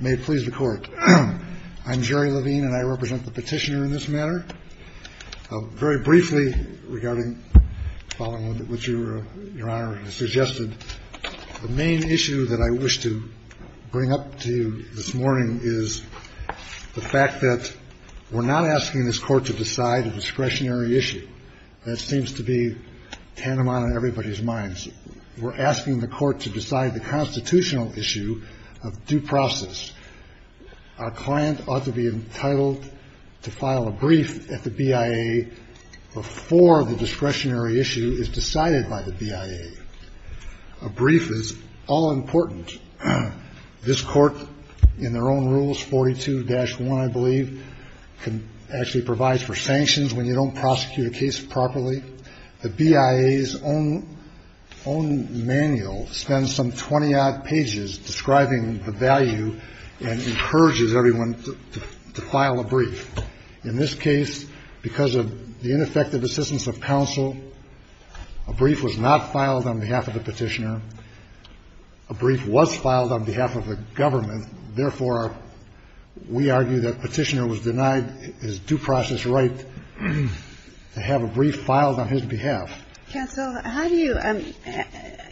May it please the Court. I'm Jerry Levine, and I represent the petitioner in this matter. Very briefly, regarding what Your Honor has suggested, the main issue that I wish to bring up to you this morning is the fact that we're not asking this Court to decide a discretionary issue. That seems to be tantamount in everybody's minds. We're asking the Court to decide the constitutional issue of due process. Our client ought to be entitled to file a brief at the BIA before the discretionary issue is decided by the BIA. A brief is all-important. This Court, in their own rules, 42-1, I believe, actually provides for sanctions when you don't prosecute a case properly. The BIA's own manual spends some 20-odd pages describing the value and encourages everyone to file a brief. In this case, because of the ineffective assistance of counsel, a brief was not filed on behalf of the petitioner. A brief was filed on behalf of the government. Therefore, we argue that the petitioner was denied his due process right to have a brief filed on his behalf. Counsel, how do you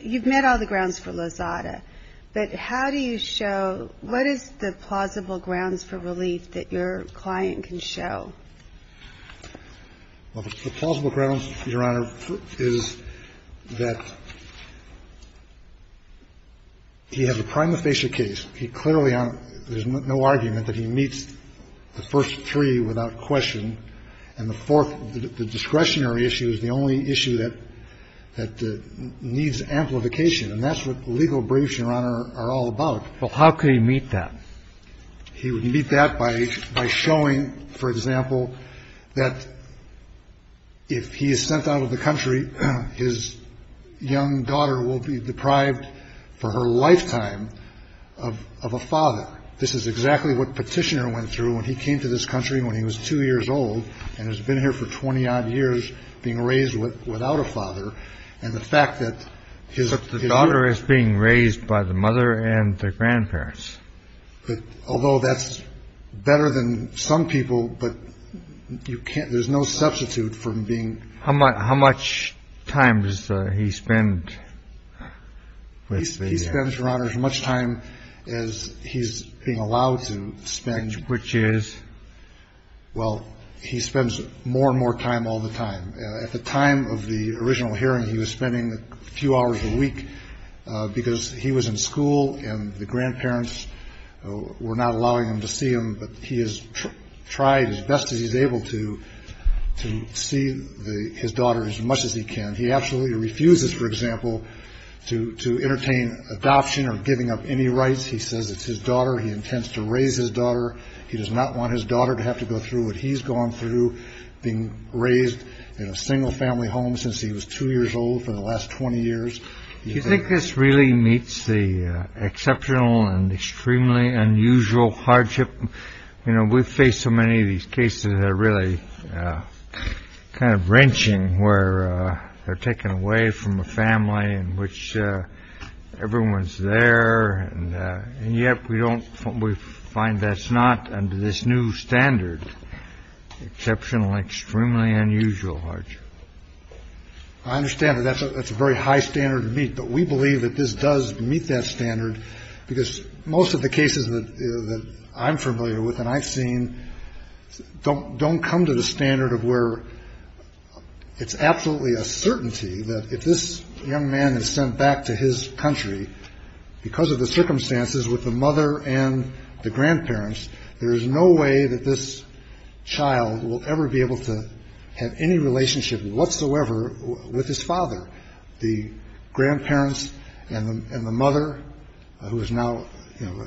– you've met all the grounds for Lozada, but how do you show – what is the plausible grounds for relief that your client can show? Well, the plausible grounds, Your Honor, is that he has a prima facie case. He clearly – there's no argument that he meets the first three without question. And the fourth, the discretionary issue is the only issue that needs amplification. And that's what legal briefs, Your Honor, are all about. Well, how could he meet that? He would meet that by showing, for example, that if he is sent out of the country, his young daughter will be deprived for her lifetime of a father. This is exactly what Petitioner went through when he came to this country when he was two years old and has been here for 20-odd years being raised without a father. And the fact that his – But the daughter is being raised by the mother and the grandparents. Although that's better than some people, but you can't – there's no substitute for being – How much time does he spend with – He spends, Your Honor, as much time as he's being allowed to spend. Which is? Well, he spends more and more time all the time. At the time of the original hearing, he was spending a few hours a week because he was in school and the grandparents were not allowing him to see him. But he has tried as best as he's able to to see his daughter as much as he can. He absolutely refuses, for example, to entertain adoption or giving up any rights. He says it's his daughter. He intends to raise his daughter. He does not want his daughter to have to go through what he's gone through, being raised in a single-family home since he was two years old for the last 20 years. Do you think this really meets the exceptional and extremely unusual hardship? We face so many of these cases that are really kind of wrenching, where they're taken away from a family in which everyone's there. And yet we don't – we find that's not under this new standard. Exceptional and extremely unusual hardship. I understand that that's a very high standard to meet, but we believe that this does meet that standard because most of the cases that I'm familiar with and I've seen don't come to the standard of where it's absolutely a certainty that if this young man is sent back to his country, because of the circumstances with the mother and the grandparents, there is no way that this child will ever be able to have any relationship whatsoever with his father. The grandparents and the mother, who is now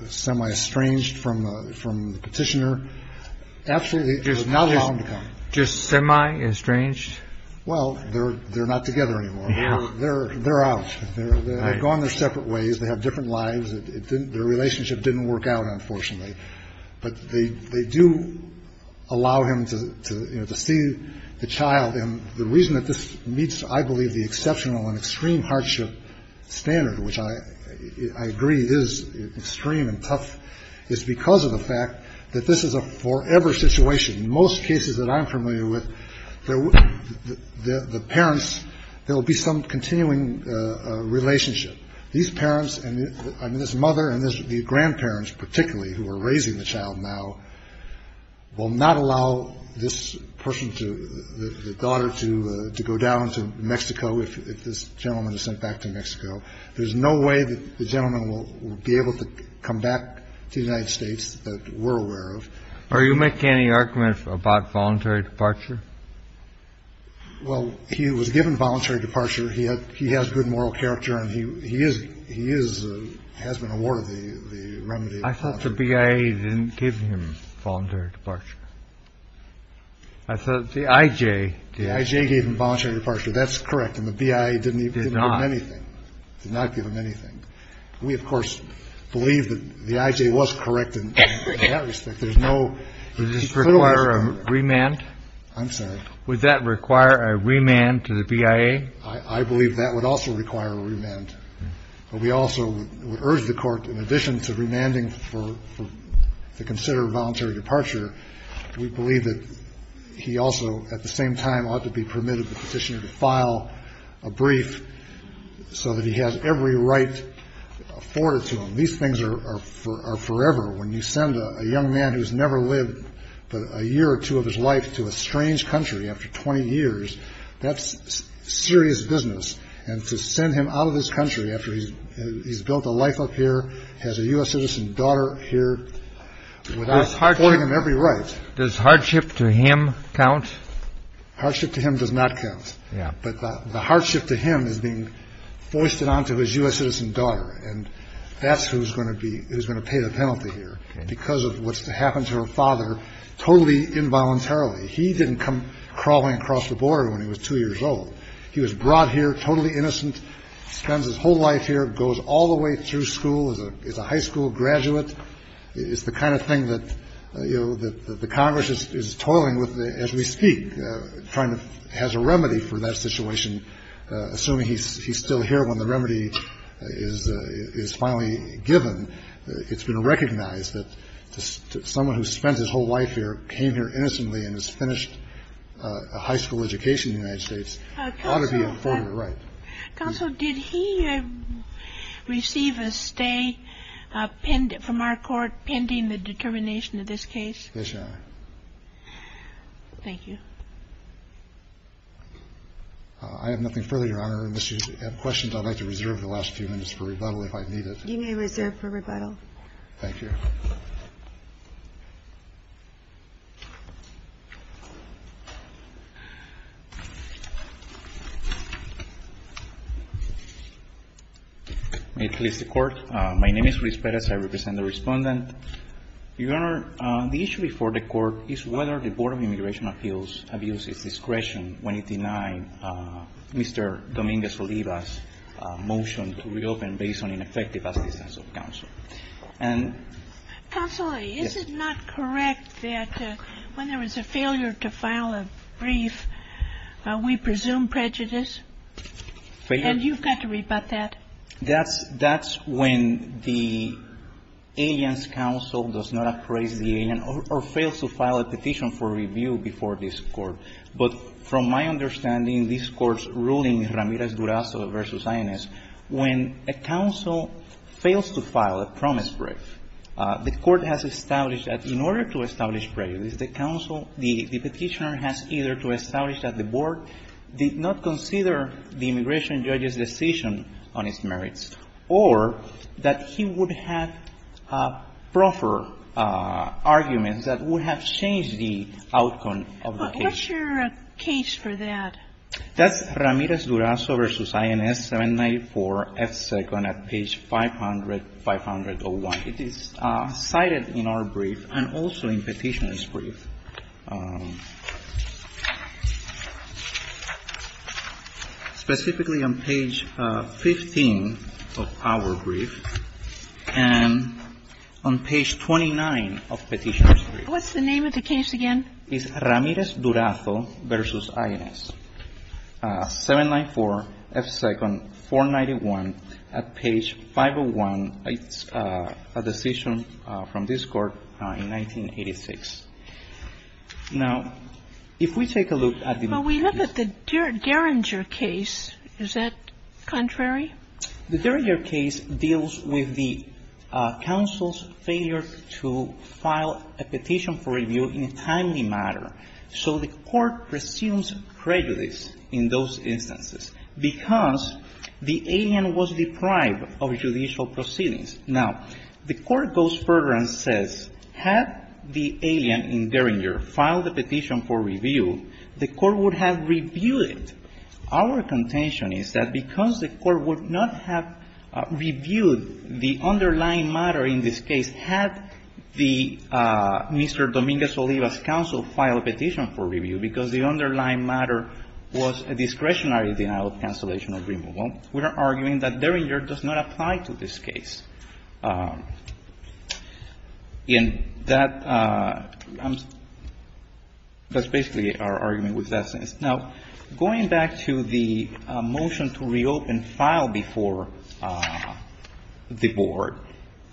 semi-estranged from the petitioner, absolutely – Just semi-estranged? Well, they're not together anymore. They're out. They've gone their separate ways. They have different lives. Their relationship didn't work out, unfortunately. But they do allow him to see the child. And the reason that this meets, I believe, the exceptional and extreme hardship standard, which I agree is extreme and tough, is because of the fact that this is a forever situation. In most cases that I'm familiar with, the parents – there will be some continuing relationship. These parents – I mean, this mother and the grandparents, particularly, who are raising the child now, will not allow this person to – the daughter to go down to Mexico if this gentleman is sent back to Mexico. There's no way that the gentleman will be able to come back to the United States that we're aware of. Are you making any argument about voluntary departure? Well, he was given voluntary departure. He has good moral character, and he is – he has been awarded the remedy. I thought the BIA didn't give him voluntary departure. I thought the IJ did. The IJ gave him voluntary departure. That's correct, and the BIA didn't give him anything. Did not. Did not give him anything. We, of course, believe that the IJ was correct in that respect. There's no – Does this require a remand? I'm sorry? Would that require a remand to the BIA? I believe that would also require a remand. But we also would urge the Court, in addition to remanding for – to consider voluntary departure, we believe that he also at the same time ought to be permitted the petitioner to file a brief so that he has every right afforded to him. These things are forever. When you send a young man who's never lived but a year or two of his life to a strange country after 20 years, that's serious business. And to send him out of this country after he's built a life up here, has a U.S. citizen daughter here, without affording him every right – Does hardship to him count? Hardship to him does not count. Yeah. But the hardship to him is being foisted onto his U.S. citizen daughter, and that's who's going to pay the penalty here because of what's happened to her father totally involuntarily. He didn't come crawling across the border when he was 2 years old. He was brought here totally innocent, spends his whole life here, goes all the way through school, is a high school graduate. It's the kind of thing that, you know, that the Congress is toiling with as we speak, trying to – has a remedy for that situation, assuming he's still here when the remedy is finally given. It's been recognized that someone who spent his whole life here came here innocently and has finished a high school education in the United States ought to be informed of the right. Counsel, did he receive a stay from our court pending the determination of this case? Yes, Your Honor. Thank you. I have nothing further, Your Honor. Unless you have questions, I'd like to reserve the last few minutes for rebuttal if I need it. You may reserve for rebuttal. Thank you. May it please the Court. My name is Luis Perez. I represent the Respondent. Your Honor, the issue before the Court is whether the Board of Immigration Appeals have used its discretion when it denied Mr. Dominguez-Olivas' motion to reopen based on ineffective assistance of counsel. Counsel, is it not correct that when there is a failure to file a brief, we presume prejudice? And you've got to rebut that. That's when the alien's counsel does not appraise the alien or fails to file a petition for review before this Court. But from my understanding, this Court's ruling, Ramirez-Durazo v. INS, when a counsel fails to file a promise brief, the Court has established that in order to establish prejudice, the counsel, the petitioner has either to establish that the Board did not consider the immigration judge's decision on its merits, or that he would have proffer arguments that would have changed the outcome of the case. What's your case for that? That's Ramirez-Durazo v. INS, 794 F. Second at page 500-501. It is cited in our brief and also in Petitioner's brief. Specifically on page 15 of our brief and on page 29 of Petitioner's brief. What's the name of the case again? It's Ramirez-Durazo v. INS, 794 F. Second, 491 at page 501. It's a decision from this Court in 1986. Now, if we take a look at the next case. But we look at the Geringer case. Is that contrary? The Geringer case deals with the counsel's failure to file a petition for review in a timely manner. So the Court presumes prejudice in those instances, because the alien was deprived of judicial proceedings. Now, the Court goes further and says, had the alien in Geringer filed a petition for review, the Court would have reviewed it. Our contention is that because the Court would not have reviewed the underlying matter in this case had the Mr. Dominguez-Oliva's counsel filed a petition for review, because the underlying matter was a discretionary denial of cancellation or removal, we are arguing that Geringer does not apply to this case. And that's basically our argument with that sense. Now, going back to the motion to reopen file before the Board,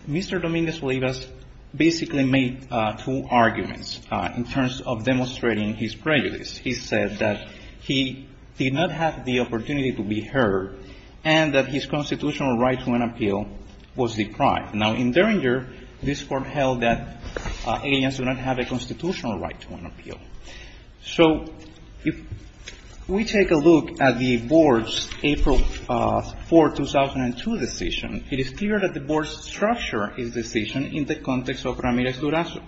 Mr. Dominguez-Oliva's basically made two arguments in terms of demonstrating his prejudice. He said that he did not have the opportunity to be heard and that his constitutional right to an appeal was deprived. Now, in Geringer, this Court held that aliens do not have a constitutional right to an appeal. So if we take a look at the Board's April 4, 2002, decision, it is clear that the Board's structure is decision in the context of Ramirez-Durazo.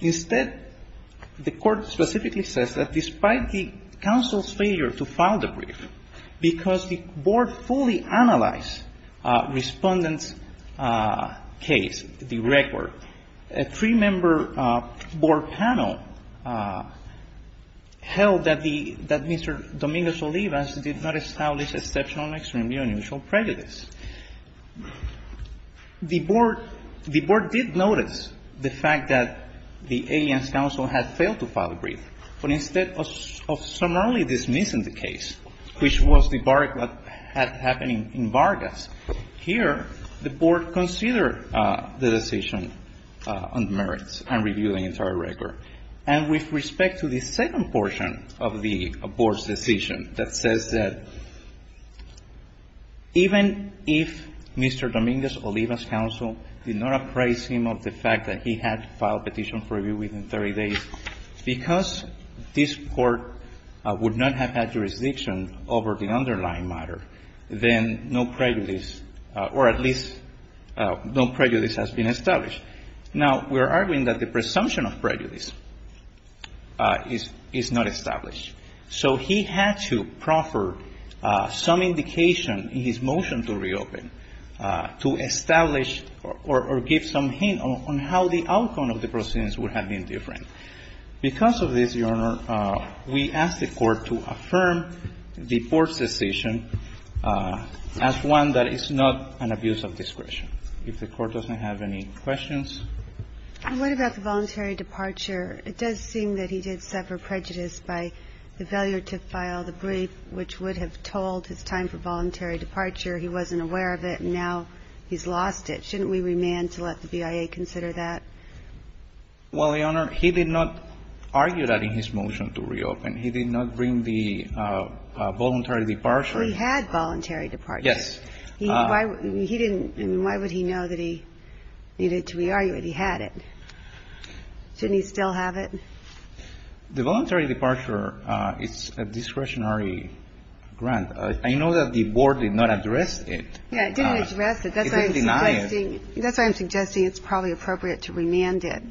Instead, the Court specifically says that despite the counsel's failure to file the brief, because the Board fully analyzed Respondent's case, the record, a three-member board panel, held that the Mr. Dominguez-Oliva's did not establish exceptional and extremely unusual prejudice. The Board did notice the fact that the aliens' counsel had failed to file the brief. But instead of summarily dismissing the case, which was the bargain that had happened in Vargas, here the Board considered the decision on the merits and reviewed the entire record. And with respect to the second portion of the Board's decision that says that even if Mr. Dominguez-Oliva's counsel did not appraise him of the fact that he had filed a petition for review within 30 days, because this Court would not have had jurisdiction over the underlying matter, then no prejudice or at least no prejudice has been established. Now, we are arguing that the presumption of prejudice is not established. So he had to proffer some indication in his motion to reopen to establish or give some hint on how the outcome of the proceedings would have been different. Because of this, Your Honor, we ask the Court to affirm the Board's decision as one that is not an abuse of discretion. If the Court doesn't have any questions. And what about the voluntary departure? It does seem that he did suffer prejudice by the failure to file the brief, which would have told his time for voluntary departure. He wasn't aware of it, and now he's lost it. Shouldn't we remand to let the BIA consider that? Well, Your Honor, he did not argue that in his motion to reopen. He did not bring the voluntary departure. He had voluntary departure. Yes. He didn't. I mean, why would he know that he needed to re-argue it? He had it. Shouldn't he still have it? The voluntary departure is a discretionary grant. I know that the Board did not address it. Yeah, it didn't address it. That's why I'm suggesting. He didn't deny it. He didn't demand it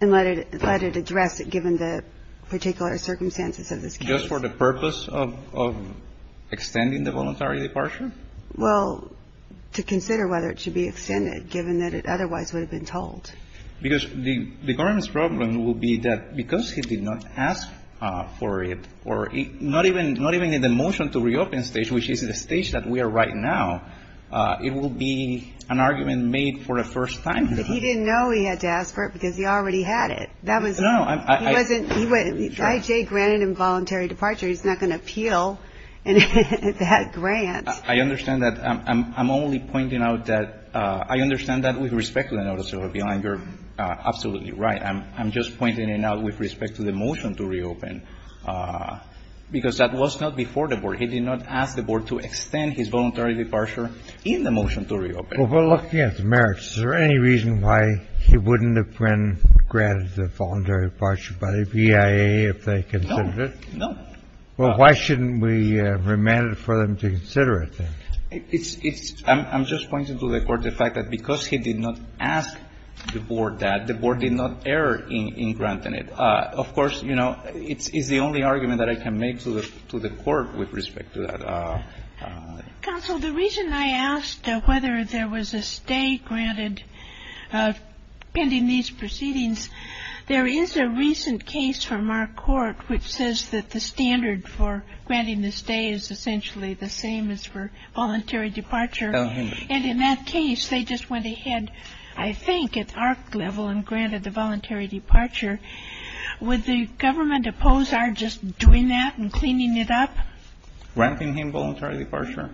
and let it address it, given the particular circumstances of this case. Just for the purpose of extending the voluntary departure? Well, to consider whether it should be extended, given that it otherwise would have been told. Because the government's problem will be that because he did not ask for it, or not even in the motion to reopen stage, which is the stage that we are right now, it will be an argument made for the first time. But he didn't know he had to ask for it because he already had it. No. He wasn't. I.J. granted him voluntary departure. He's not going to appeal that grant. I understand that. I'm only pointing out that. I understand that with respect to the notice of appeal. And you're absolutely right. I'm just pointing it out with respect to the motion to reopen. Because that was not before the Board. He did not ask the Board to extend his voluntary departure in the motion to reopen. Well, we're looking at the merits. Is there any reason why he wouldn't have been granted the voluntary departure by the BIA if they considered it? No. No. Well, why shouldn't we remand it for them to consider it, then? It's — I'm just pointing to the Court the fact that because he did not ask the Board that, the Board did not err in granting it. Of course, you know, it's the only argument that I can make to the Court with respect to that. Counsel, the reason I asked whether there was a stay granted pending these proceedings, there is a recent case from our court which says that the standard for granting the stay is essentially the same as for voluntary departure. Tell him. And in that case, they just went ahead, I think, at our level and granted the voluntary departure. Would the government oppose our just doing that and cleaning it up? Granting him voluntary departure?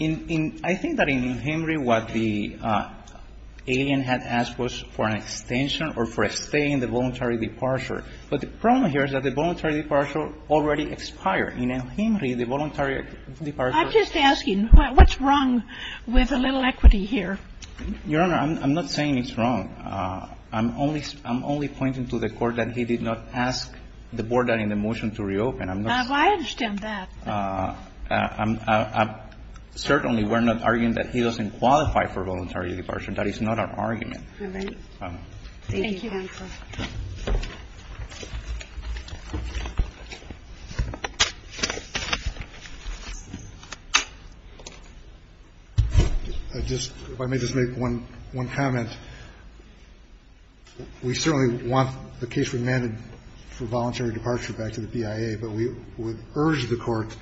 In — I think that in El-Henry, what the alien had asked was for an extension or for a stay in the voluntary departure. But the problem here is that the voluntary departure already expired. In El-Henry, the voluntary departure — I'm just asking, what's wrong with a little equity here? Your Honor, I'm not saying it's wrong. I'm only — I'm only pointing to the Court that he did not ask the Board that in the motion to reopen. I'm not — Well, I understand that. I'm — certainly we're not arguing that he doesn't qualify for voluntary departure. That is not our argument. All right. Thank you. Thank you, counsel. I just — if I may just make one comment. We certainly want the case remanded for voluntary departure back to the BIA, but we would urge the Court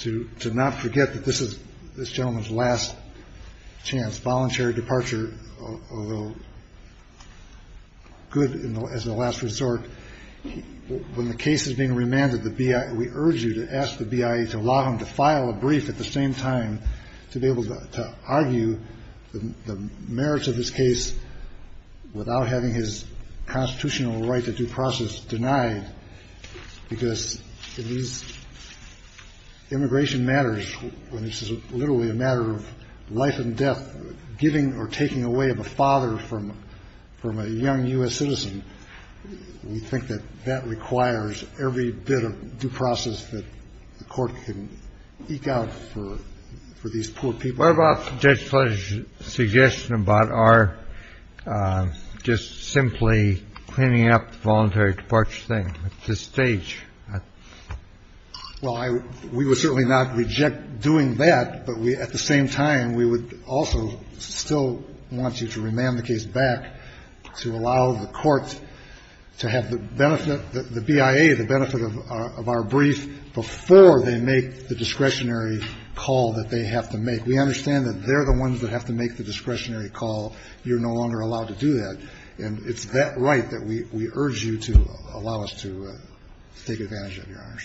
to not forget that this is this gentleman's last chance. Voluntary departure, although good as a last resort, when the case is being remanded, the BIA — we urge you to ask the BIA to allow him to file a brief at the same time to be able to argue the merits of his case without having his constitutional right to due process denied, because immigration matters when it's literally a matter of life and death, giving or taking away of a father from a young U.S. citizen. We think that that requires every bit of due process that the Court can eke out for these poor people. What about Judge Fletcher's suggestion about our just simply cleaning up the voluntary departure thing at this stage? Well, I — we would certainly not reject doing that, but we — at the same time, we would also still want you to remand the case back to allow the Court to have the discretionary call. We understand that they're the ones that have to make the discretionary call. You're no longer allowed to do that. And it's that right that we urge you to allow us to take advantage of, Your Honors.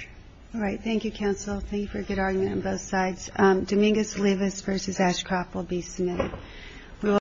All right. Thank you, counsel. Thank you for a good argument on both sides. Dominguez-Lewis v. Ashcroft will be submitted.